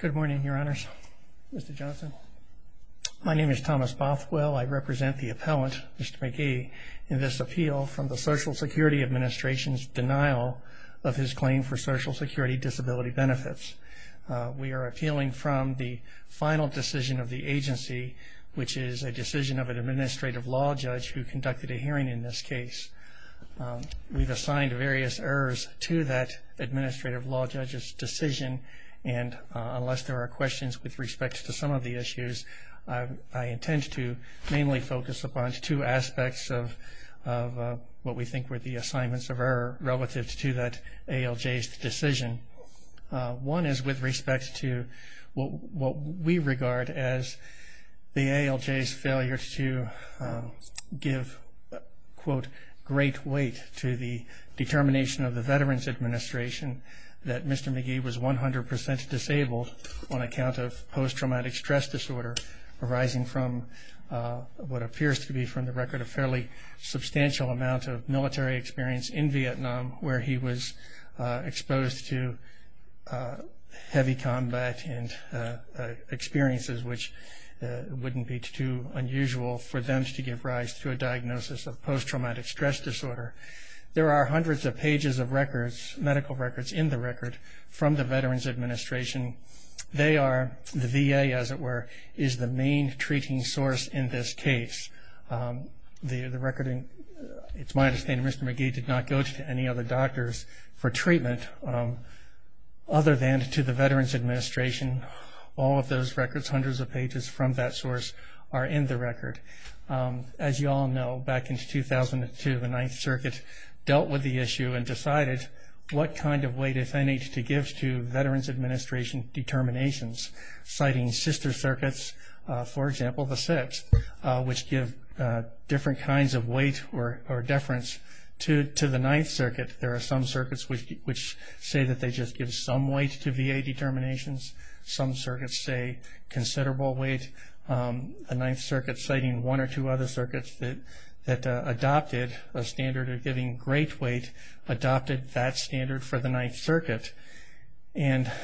Good morning, your honors, Mr. Johnson. My name is Thomas Bothwell. I represent the appellant, Mr. McGee, in this appeal from the Social Security Administration's denial of his claim for Social Security disability benefits. We are appealing from the final decision of the agency, which is a decision of an administrative law judge who conducted a hearing in this case. We've assigned various errors to that administrative law judge's decision, and unless there are questions with respect to some of the issues, I intend to mainly focus upon two aspects of what we think were the assignments of error relative to that ALJ's decision. One is with respect to what we regard as the ALJ's failure to give, quote, great weight to the determination of the Veterans Administration that Mr. McGee was 100% disabled on account of post-traumatic stress disorder arising from what appears to be, from the record, a fairly substantial amount of military experience in Vietnam where he was exposed to heavy combat and experiences which wouldn't be too unusual for them to give rise to a diagnosis of post-traumatic stress disorder. There are hundreds of pages of records, medical records, in the record from the Veterans Administration. They are, the VA, as it were, is the main treating source in this case. It's my understanding Mr. McGee did not go to any other doctors for treatment other than to the Veterans Administration. All of those records, hundreds of pages from that source, are in the record. As you all know, back in 2002, the Ninth Circuit dealt with the issue and decided what kind of weight if any to give to Veterans Administration determinations, citing sister circuits, for example, the Sixth, which give different kinds of weight or deference to the Ninth Circuit. There are some circuits which say that they just give some weight to VA determinations. Some circuits say considerable weight. The Ninth Circuit, citing one or two other circuits that adopted a standard of giving great weight, adopted that standard for the Ninth Circuit. The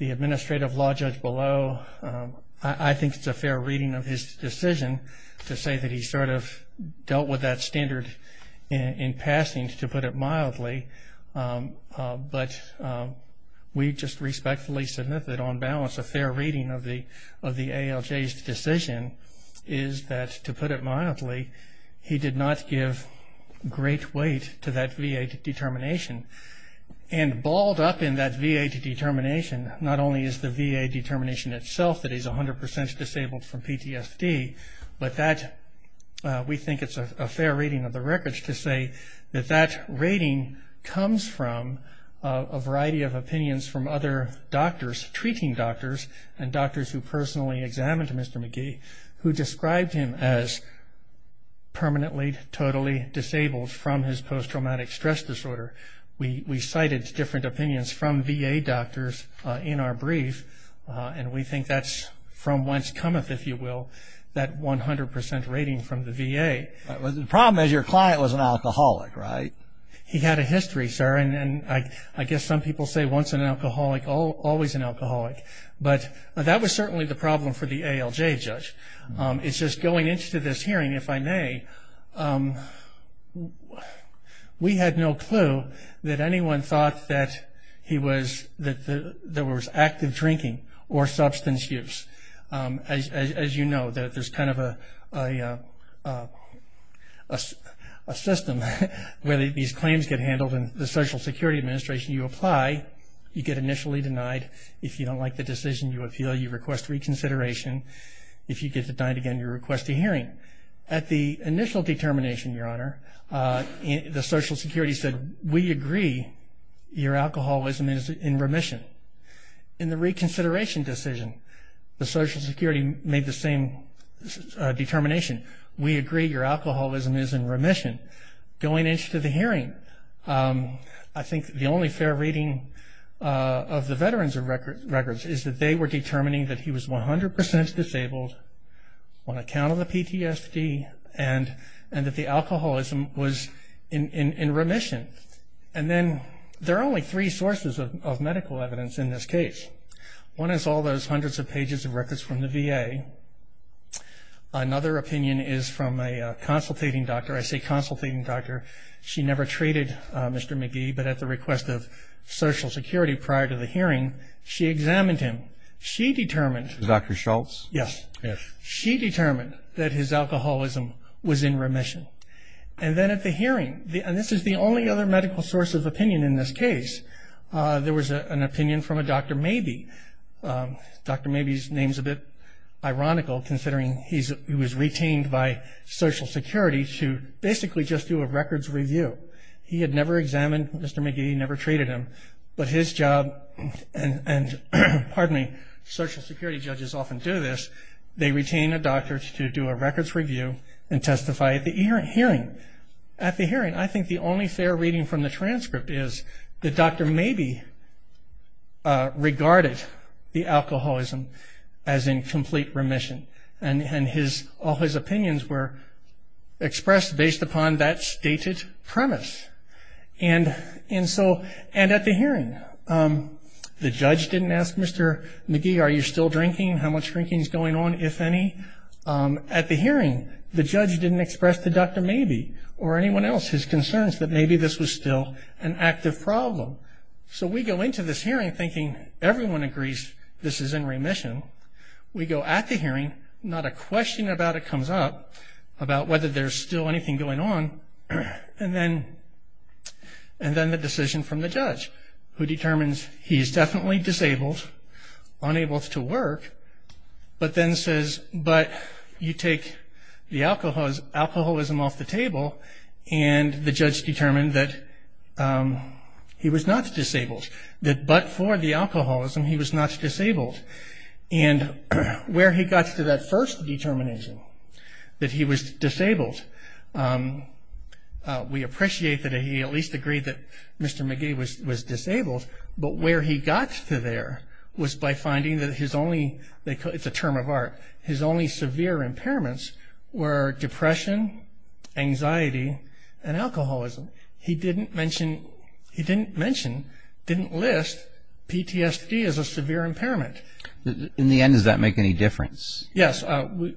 administrative law judge below, I think it's a fair reading of his decision to say that he sort of dealt with that standard in passing, to put it mildly, he did not give great weight to that VA determination. Balled up in that VA determination, not only is the VA determination itself that he's 100% disabled from PTSD, but we think it's a fair reading of the records to say that rating comes from a variety of opinions from other doctors, treating doctors and doctors who personally examined Mr. McGee, who described him as permanently, totally disabled from his post-traumatic stress disorder. We cited different opinions from VA doctors in our brief, and we think that's from whence cometh, if you will, that 100% rating from the VA. The problem is your client was an alcoholic, right? He had a history, sir, and I guess some people say once an alcoholic, always an alcoholic, but that was certainly the problem for the ALJ judge. It's just going into this hearing, if I may, we had no clue that anyone thought that he was, that there was active drinking or substance use. As you know, there's kind of a system where these claims get handled, and the Social Security Administration, you apply, you get initially denied. If you don't like the decision, you appeal, you request reconsideration. If you get denied again, you request a hearing. At the initial determination, Your Honor, the Social Security said, we agree your alcoholism is in remission. In the reconsideration decision, the Social Security made the same determination. We agree your alcoholism is in remission. Going into the hearing, I think the only fair reading of the veteran's records is that they were determining that he was 100% disabled on account of the PTSD, and that the alcoholism was in remission. And then there are only three sources of medical evidence in this case. One is all those hundreds of pages of records from the VA. Another opinion is from a consultating doctor. I say consultating doctor. She never treated Mr. McGee, but at the request of Social Security prior to the hearing, she examined him. She determined... Dr. Schultz? Yes. She determined that his alcoholism was in remission. And then at the hearing, and this is the only other medical source of opinion in this case, there was an opinion from a Dr. Mabee. Dr. Mabee's name's a bit ironical considering he was retained by Social Security to basically just do a records review. He had never examined Mr. McGee, never treated him, but his job... And pardon me, Social Security judges often do this. They retain a doctor to do a records review and testify at the hearing. At the hearing, I think the only fair reading from the transcript is that Dr. Mabee regarded the alcoholism as in complete remission. And all his opinions were expressed based upon that stated premise. And at the hearing, the judge didn't ask Mr. McGee, are you still drinking? How much drinking's going on, if any? At the hearing, the judge didn't express to Dr. Mabee or anyone else his concerns that maybe this was still an active problem. So we go into this hearing thinking everyone agrees this is in remission. We go at the hearing, not a question about it comes up about whether there's still anything going on. And then the decision from the judge, who determines he's definitely disabled, unable to work, but then says, but you take the alcoholism off the table, and the judge determined that he was not disabled. That but for the alcoholism, he was not disabled. And where he got to that first determination, that he was disabled, we appreciate that he at least agreed that Mr. McGee was disabled, but where he got to there was by finding that his only, it's a term of art, his only severe impairments were depression, anxiety, and alcoholism. He didn't mention, didn't list PTSD as a severe impairment. In the end, does that make any difference? Yes,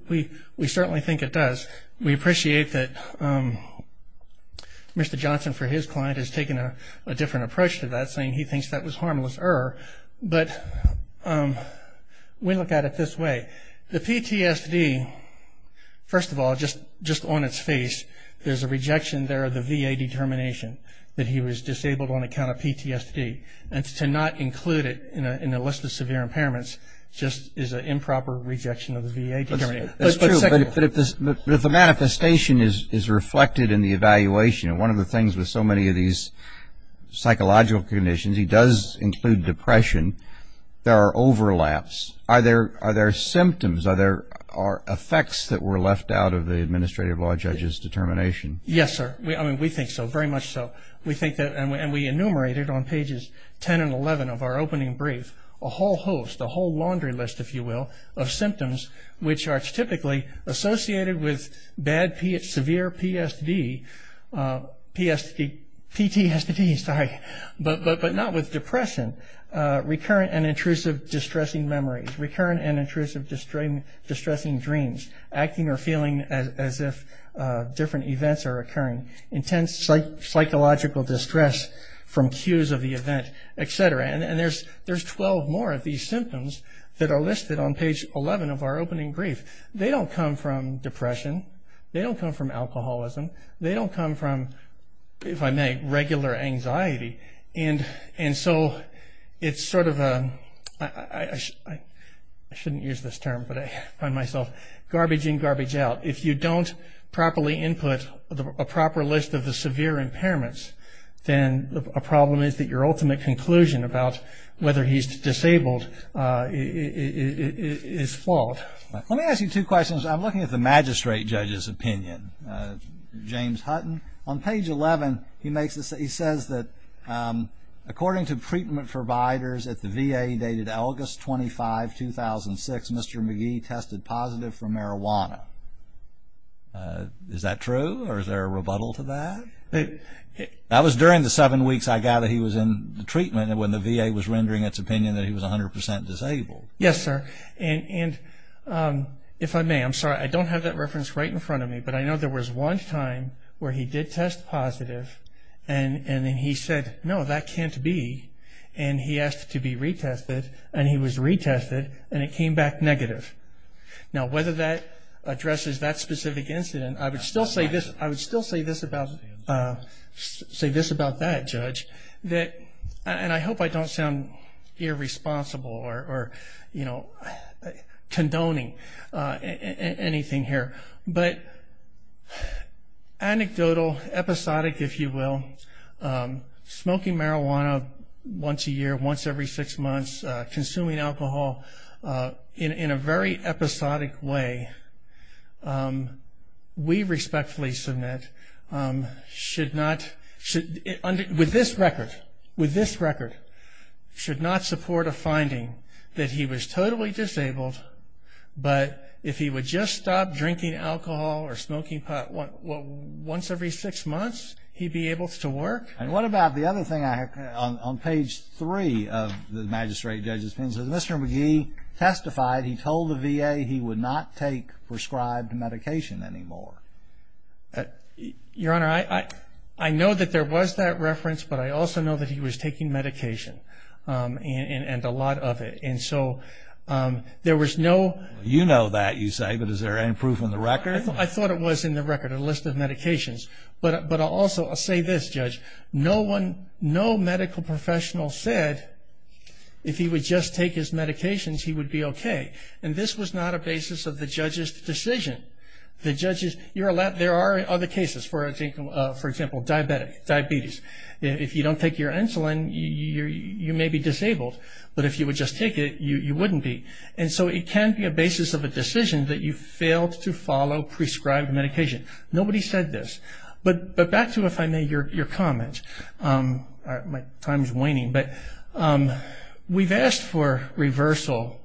we certainly think it does. We appreciate that Mr. Johnson, for his client, has taken a different approach to that, saying he thinks that was harmless error, but we look at it this way. The PTSD, first of all, just on its face, there's a rejection there of the VA determination that he was disabled on account of PTSD. And to not include it in a list of severe impairments just is an improper rejection of the VA determination. That's true, but if the manifestation is reflected in the evaluation, and one of the things with so many of these psychological conditions, he does include depression, there are overlaps. Are there symptoms, are there effects that were left out of the administrative law judge's determination? Yes, sir. I mean, we think so, very much so. We think that, and we enumerated on pages 10 and 11 of our opening brief, a whole host, a whole laundry list, if you will, of symptoms, which are typically associated with bad, severe PTSD, but not with depression. Recurrent and intrusive distressing memories, recurrent and intrusive distressing dreams, acting or feeling as if different events are occurring, intense psychological distress from cues of the event, etc. There's 12 more of these symptoms that are listed on page 11 of our opening brief. They don't come from depression, they don't come from alcoholism, they don't come from, if I may, regular anxiety. And so it's sort of a, I shouldn't use this term, but I find myself garbaging garbage out. If you don't properly input a proper list of the severe impairments, then a problem is that your ultimate conclusion about whether he's disabled is fault. Let me ask you two questions. I'm looking at the magistrate judge's opinion, James Hutton. On page 11, he says that according to treatment providers at the VA dated August 25, 2006, Mr. McGee tested positive for marijuana. Is that true, or is there a rebuttal to that? That was during the seven weeks I gather he was in the opinion that he was 100% disabled. Yes, sir. And if I may, I'm sorry, I don't have that reference right in front of me, but I know there was one time where he did test positive, and then he said, no, that can't be. And he asked to be retested, and he was retested, and it came back negative. Now, whether that addresses that specific incident, I would still say this about that, Judge, and I hope I don't sound irresponsible or condoning anything here, but anecdotal, episodic, if you will, smoking marijuana once a year, once every six months, consuming alcohol in a very episodic way, we respectfully submit should not, with this record, should not support a finding that he was totally disabled, but if he would just stop drinking alcohol or smoking pot once every six months, he'd be able to work. And what about the other thing on page three of the magistrate judge's opinion? Mr. McGee testified he told the VA he would not take prescribed medication anymore. Your Honor, I know that there was that reference, but I also know that he was taking medication and a lot of it, and so there was no... You know that, you say, but is there any proof in the record? I thought it was in the record, a list of medications, but I'll also say this, Judge, no medical professional said if he would just take his medications, he would be okay, and this was not a basis of the judge's decision. There are other cases, for example, diabetes. If you don't take your insulin, you may be disabled, but if you would just take it, you wouldn't be, and so it can be a basis of a decision that you failed to follow prescribed medication. Nobody said this, but back to, if I may, your comment. My time is waning, but we've asked for reversal,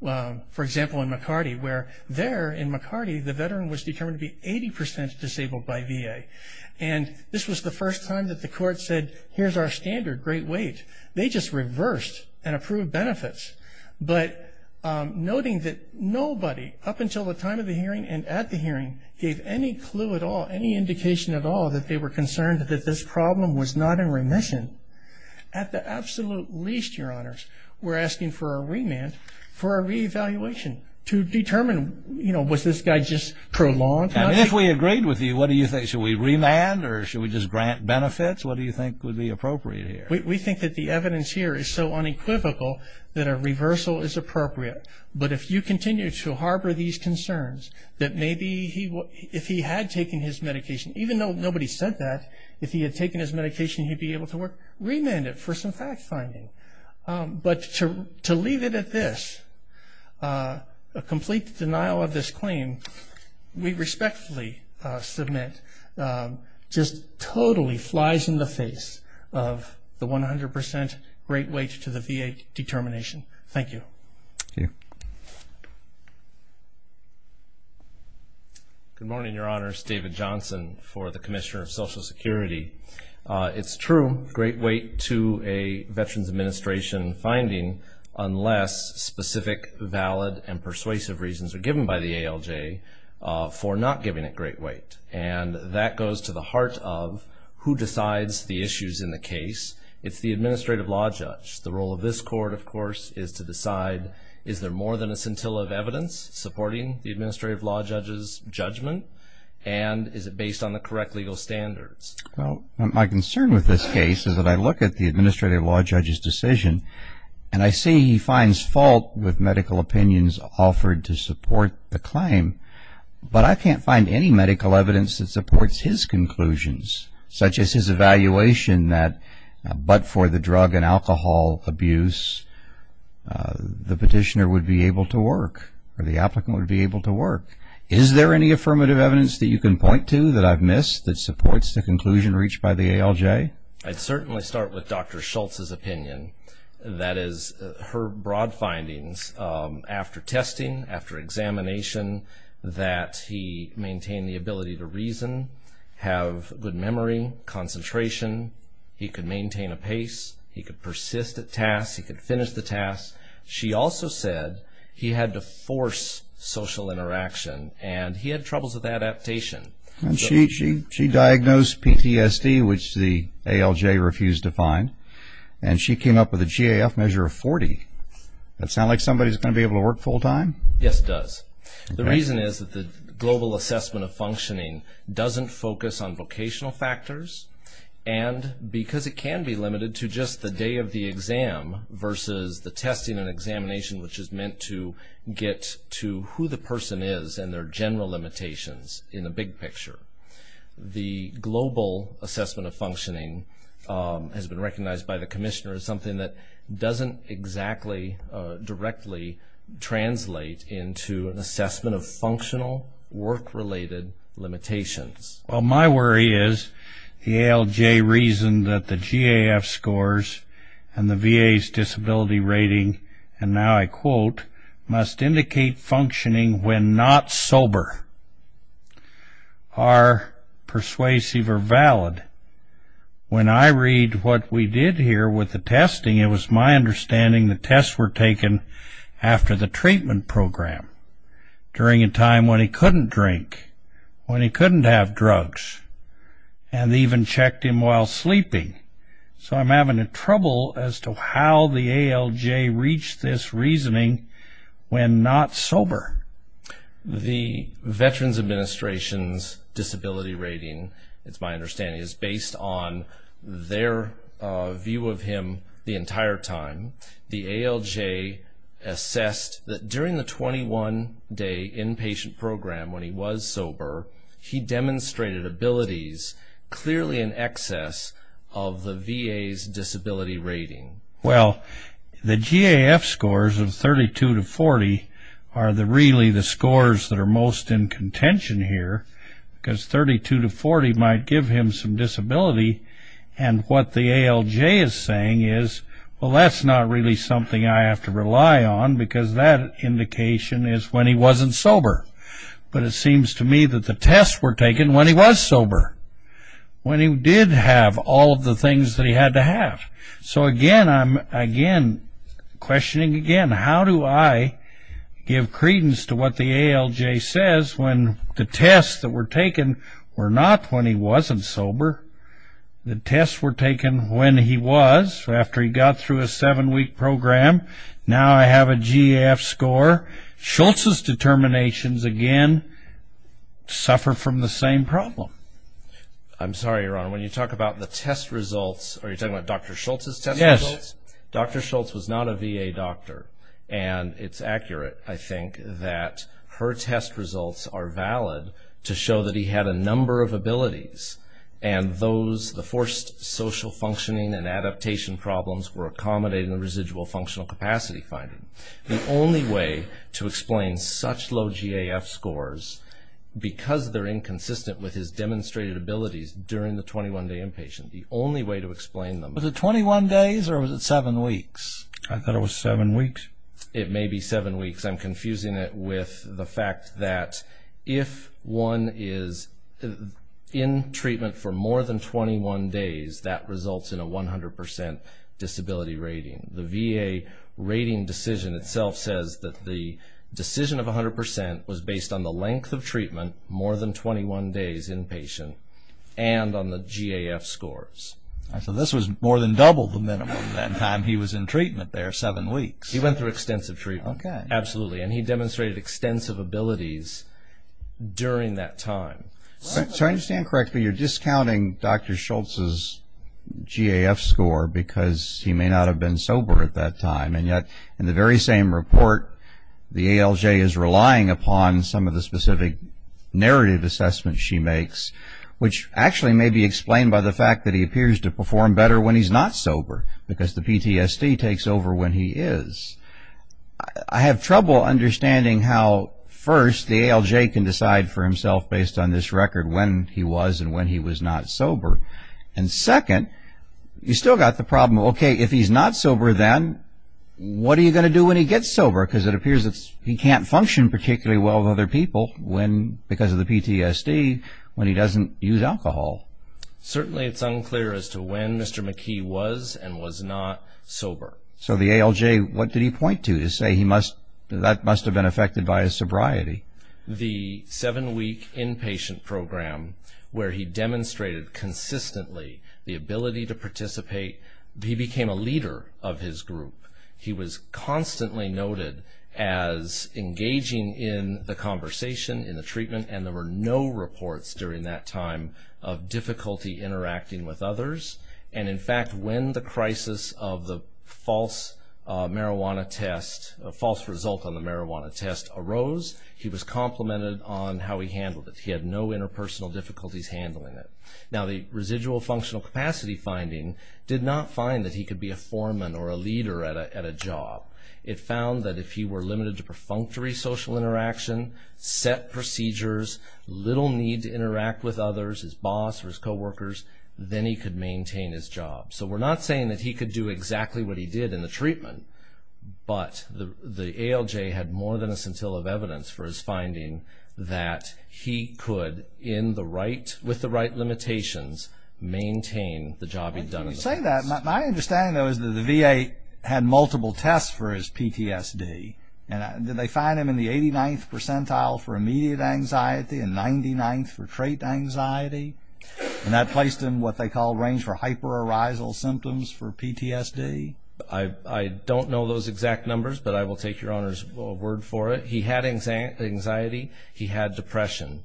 for example, in McCarty, where there in McCarty, the veteran was determined to be 80% disabled by VA, and this was the first time that the court said, here's our standard, great weight. They just reversed and approved benefits, but noting that nobody, up until the time of the hearing and at the hearing, gave any clue at all, any indication at all, that they were concerned that this problem was not in remission, at the absolute least, your honors, we're asking for a remand, for a reevaluation, to determine, you know, was this guy just prolonged? And if we agreed with you, what do you think? Should we remand, or should we just grant benefits? What do you think would be appropriate here? We think that the evidence here is so unequivocal that a reversal is appropriate, but if you continue to harbor these concerns, that maybe if he had taken his medication, even though nobody said that, if he had taken his medication, he'd be able to work, remand it for some fact-finding. But to leave it at this, a complete denial of this claim, we respectfully submit, just totally flies in the face of the 100% great weight to the VA determination. Thank you. Thank you. Good morning, your honors. David Johnson for the Commissioner of Social Security. It's true, great weight to a Veterans Administration finding, unless specific, valid, and persuasive reasons are given by the ALJ for not giving it great weight. And that goes to the heart of who decides the issues in the case. It's the Administrative Law Judge. The role of this court, of course, is to decide, is there more than a scintilla of evidence supporting the Administrative Law Judge's judgment, and is it based on the correct legal standards? Well, my concern with this case is that I look at the Administrative Law Judge's decision, and I see he finds fault with medical opinions offered to support the evidence that supports his conclusions, such as his evaluation that but for the drug and alcohol abuse, the petitioner would be able to work, or the applicant would be able to work. Is there any affirmative evidence that you can point to that I've missed that supports the conclusion reached by the ALJ? I'd certainly start with Dr. Schultz's opinion. That is, her broad findings after testing, after examination, that he maintained the ability to reason, have good memory, concentration, he could maintain a pace, he could persist at tasks, he could finish the tasks. She also said he had to force social interaction, and he had troubles with adaptation. And she diagnosed PTSD, which the ALJ refused to find, and she came up with a GAF measure of 40. That sound like somebody who's going to be able to work full-time? Yes, it does. The reason is that the Global Assessment of Functioning doesn't focus on vocational factors, and because it can be limited to just the day of the exam versus the testing and examination, which is meant to get to who the person is and their general limitations in the big picture. The Global Assessment of Functioning has been recognized by the Commissioner as something that doesn't exactly directly translate into an assessment of functional, work-related limitations. Well, my worry is the ALJ reason that the GAF scores and the VA's disability rating, and now I quote, must indicate functioning when not sober, are persuasive or valid. When I read what we did here with the testing, it was my understanding the tests were taken after the treatment program, during a time when he couldn't drink, when he couldn't have drugs, and even checked him while sleeping. So I'm having trouble as to how the ALJ reached this reasoning when not sober. The Veterans Administration's disability rating, it's my understanding, is based on their view of him the entire time. The ALJ assessed that during the 21-day inpatient program when he was sober, he demonstrated abilities clearly in excess of the VA's disability rating. Well, the GAF scores of 32 to 40 are really the scores that are most in contention here, because 32 to 40 might give him some disability, and what the ALJ is saying is, well, that's not really something I have to rely on, because that indication is when he wasn't sober. But it seems to me that the tests were taken when he was sober, when he did have all of the things that he had to have. So, again, I'm questioning again, how do I give credence to what the ALJ says when the tests that were taken were not when he wasn't sober? The tests were taken when he was, after he got through a seven-week program. Now I have a GAF score. Schultz's determinations, again, suffer from the same problem. I'm sorry, Your Honor. When you talk about the test results, are you talking about Dr. Schultz's test results? Yes. Dr. Schultz was not a VA doctor, and it's accurate, I think, that her test results are valid to show that he had a number of abilities, and those, the forced social functioning and adaptation problems were accommodating the residual functional capacity finding. The only way to explain such low GAF scores, because they're inconsistent with his demonstrated abilities during the 21-day inpatient, the only way to explain them. Was it 21 days, or was it seven weeks? I thought it was seven weeks. It may be seven weeks. I'm confusing it with the fact that if one is in treatment for more than 21 days, that results in a 100% disability rating. The VA rating decision itself says that the decision of 100% was based on the inpatient and on the GAF scores. So this was more than double the minimum that time he was in treatment there, seven weeks. He went through extensive treatment. Okay. Absolutely, and he demonstrated extensive abilities during that time. So I understand correctly, you're discounting Dr. Schultz's GAF score because he may not have been sober at that time, and yet in the very same report, the ALJ is relying upon some of the specific narrative assessments she makes, which actually may be explained by the fact that he appears to perform better when he's not sober, because the PTSD takes over when he is. I have trouble understanding how, first, the ALJ can decide for himself based on this record when he was and when he was not sober, and, second, you've still got the problem, okay, if he's not sober then, what are you going to do when he gets He may function particularly well with other people when, because of the PTSD, when he doesn't use alcohol. Certainly it's unclear as to when Mr. McKee was and was not sober. So the ALJ, what did he point to to say that must have been affected by his sobriety? The seven-week inpatient program where he demonstrated consistently the ability to participate, he became a leader of his group. He was constantly noted as engaging in the conversation, in the treatment, and there were no reports during that time of difficulty interacting with others. And, in fact, when the crisis of the false result on the marijuana test arose, he was complimented on how he handled it. He had no interpersonal difficulties handling it. Now, the residual functional capacity finding did not find that he could be a leader at a job. It found that if he were limited to perfunctory social interaction, set procedures, little need to interact with others, his boss or his coworkers, then he could maintain his job. So we're not saying that he could do exactly what he did in the treatment, but the ALJ had more than a scintilla of evidence for his finding that he could, My understanding, though, is that the VA had multiple tests for his PTSD. Did they find him in the 89th percentile for immediate anxiety and 99th for trait anxiety? And that placed him in what they call range for hyperarousal symptoms for PTSD? I don't know those exact numbers, but I will take your Honor's word for it. He had anxiety. He had depression.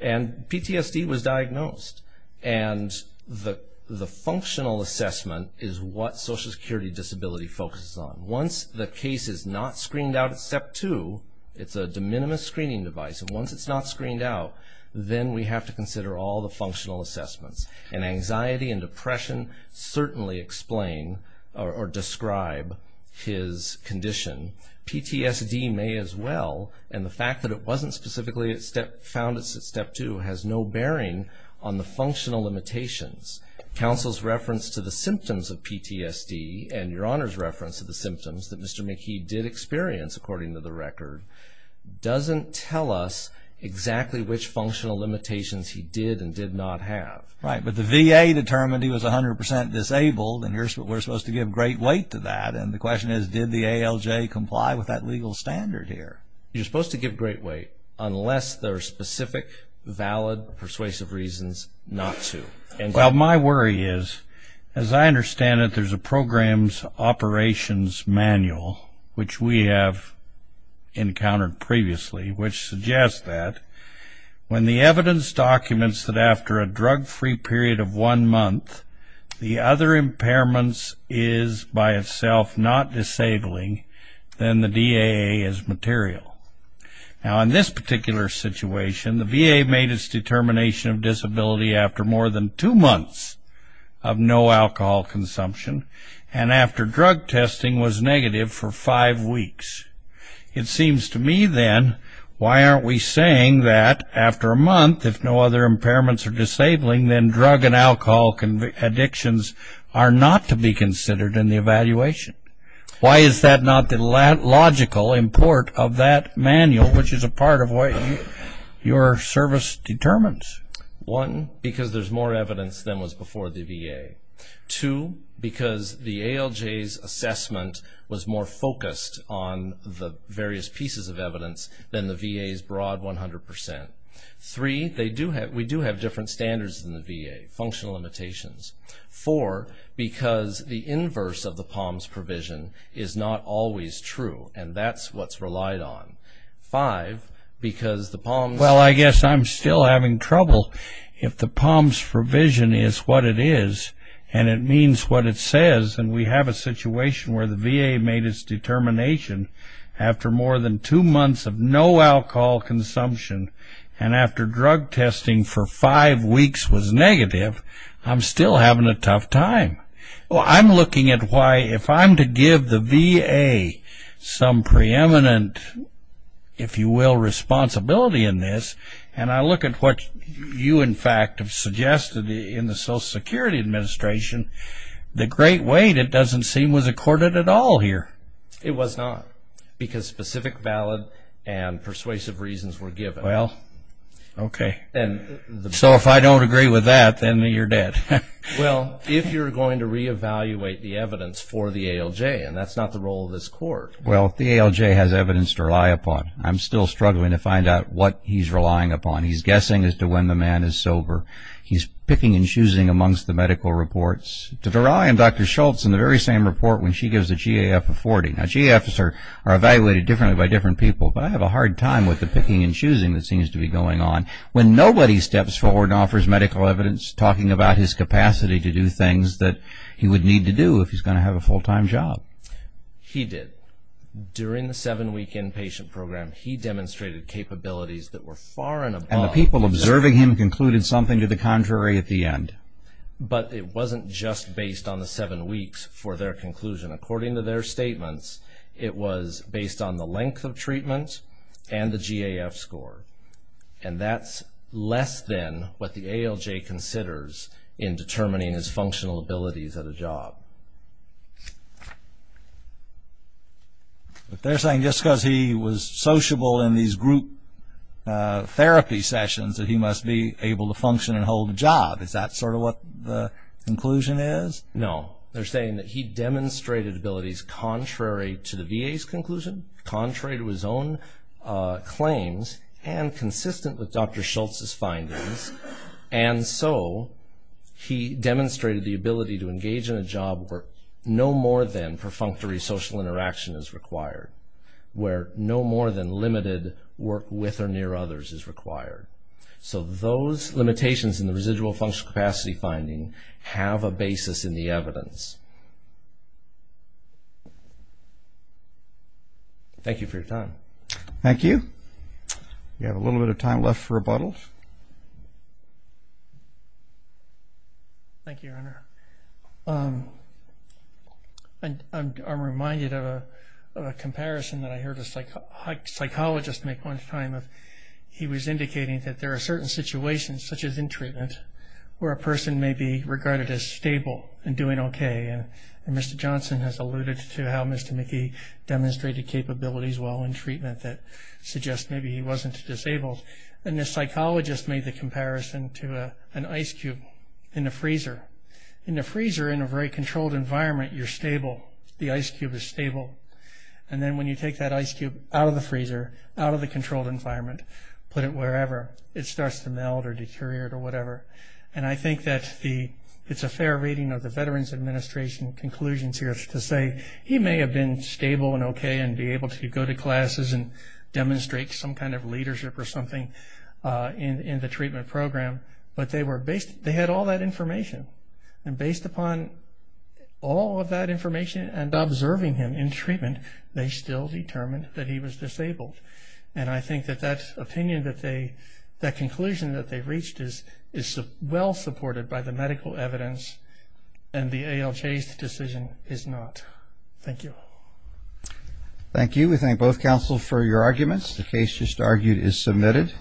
And PTSD was diagnosed. And the functional assessment is what Social Security Disability focuses on. Once the case is not screened out at Step 2, it's a de minimis screening device. And once it's not screened out, then we have to consider all the functional assessments. And anxiety and depression certainly explain or describe his condition. PTSD may as well. And the fact that it wasn't specifically found at Step 2 has no bearing on the functional limitations. Counsel's reference to the symptoms of PTSD and your Honor's reference to the symptoms that Mr. McKee did experience, according to the record, doesn't tell us exactly which functional limitations he did and did not have. Right. But the VA determined he was 100% disabled, and we're supposed to give great weight to that. And the question is, did the ALJ comply with that legal standard here? You're supposed to give great weight unless there are specific, valid, persuasive reasons not to. Well, my worry is, as I understand it, there's a program's operations manual, which we have encountered previously, which suggests that when the evidence documents that after a drug-free period of one month, the other impairment is, by itself, not disabling, then the DAA is material. Now, in this particular situation, the VA made its determination of disability after more than two months of no alcohol consumption and after drug testing was negative for five weeks. It seems to me, then, why aren't we saying that after a month, if no other impairments are disabling, then drug and alcohol addictions are not to be considered in the evaluation? Why is that not the logical import of that manual, which is a part of what your service determines? One, because there's more evidence than was before the VA. Two, because the ALJ's assessment was more focused on the various pieces of evidence than the VA's broad 100%. Three, we do have different standards than the VA, functional limitations. Four, because the inverse of the POMS provision is not always true, and that's what's relied on. Five, because the POMS... Well, I guess I'm still having trouble. If the POMS provision is what it is and it means what it says, and we have a situation where the VA made its determination after more than two months of no alcohol consumption and after drug testing for five weeks was negative, I'm still having a tough time. Well, I'm looking at why, if I'm to give the VA some preeminent, if you will, responsibility in this, and I look at what you, in fact, have suggested in the Social Security Administration, the great weight, it doesn't seem, was accorded at all here. It was not, because specific valid and persuasive reasons were given. Well, okay. So if I don't agree with that, then you're dead. Well, if you're going to reevaluate the evidence for the ALJ, and that's not the role of this court. Well, if the ALJ has evidence to rely upon, I'm still struggling to find out what he's relying upon. He's guessing as to when the man is sober. He's picking and choosing amongst the medical reports. I am Dr. Schultz in the very same report when she gives a GAF of 40. Now, GAFs are evaluated differently by different people, but I have a hard time with the picking and choosing that seems to be going on. When nobody steps forward and offers medical evidence talking about his capacity to do things that he would need to do if he's going to have a full-time job. He did. During the seven-week inpatient program, he demonstrated capabilities that were far and above. And the people observing him concluded something to the contrary at the end. But it wasn't just based on the seven weeks for their conclusion. According to their statements, it was based on the length of treatment and the GAF score. And that's less than what the ALJ considers in determining his functional abilities at a job. They're saying just because he was sociable in these group therapy sessions that he must be able to function and hold a job. Is that sort of what the conclusion is? No. They're saying that he demonstrated abilities contrary to the VA's conclusion, contrary to his own claims, and consistent with Dr. Schultz's findings. And so he demonstrated the ability to engage in a job where no more than perfunctory social interaction is required. Where no more than limited work with or near others is required. So those limitations in the residual functional capacity finding have a basis in the evidence. Thank you for your time. Thank you. We have a little bit of time left for rebuttals. Thank you, Your Honor. I'm reminded of a comparison that I heard a psychologist make one time. He was indicating that there are certain situations, such as in treatment, where a person may be regarded as stable and doing okay. And Mr. Johnson has alluded to how Mr. Mickey demonstrated capabilities while in treatment that suggests maybe he wasn't disabled. And the psychologist made the comparison to an ice cube in the freezer. In the freezer, in a very controlled environment, you're stable. The ice cube is stable. And then when you take that ice cube out of the freezer, out of the controlled environment, put it wherever, it starts to melt or deteriorate or whatever. And I think that it's a fair reading of the Veterans Administration conclusions here to say he may have been stable and okay and be able to go to classes and demonstrate some kind of leadership or something in the treatment program, but they had all that information. And based upon all of that information and observing him in treatment, they still determined that he was disabled. And I think that that conclusion that they reached is well supported by the medical evidence, and the ALJ's decision is not. Thank you. Thank you. We thank both counsels for your arguments. The case just argued is submitted.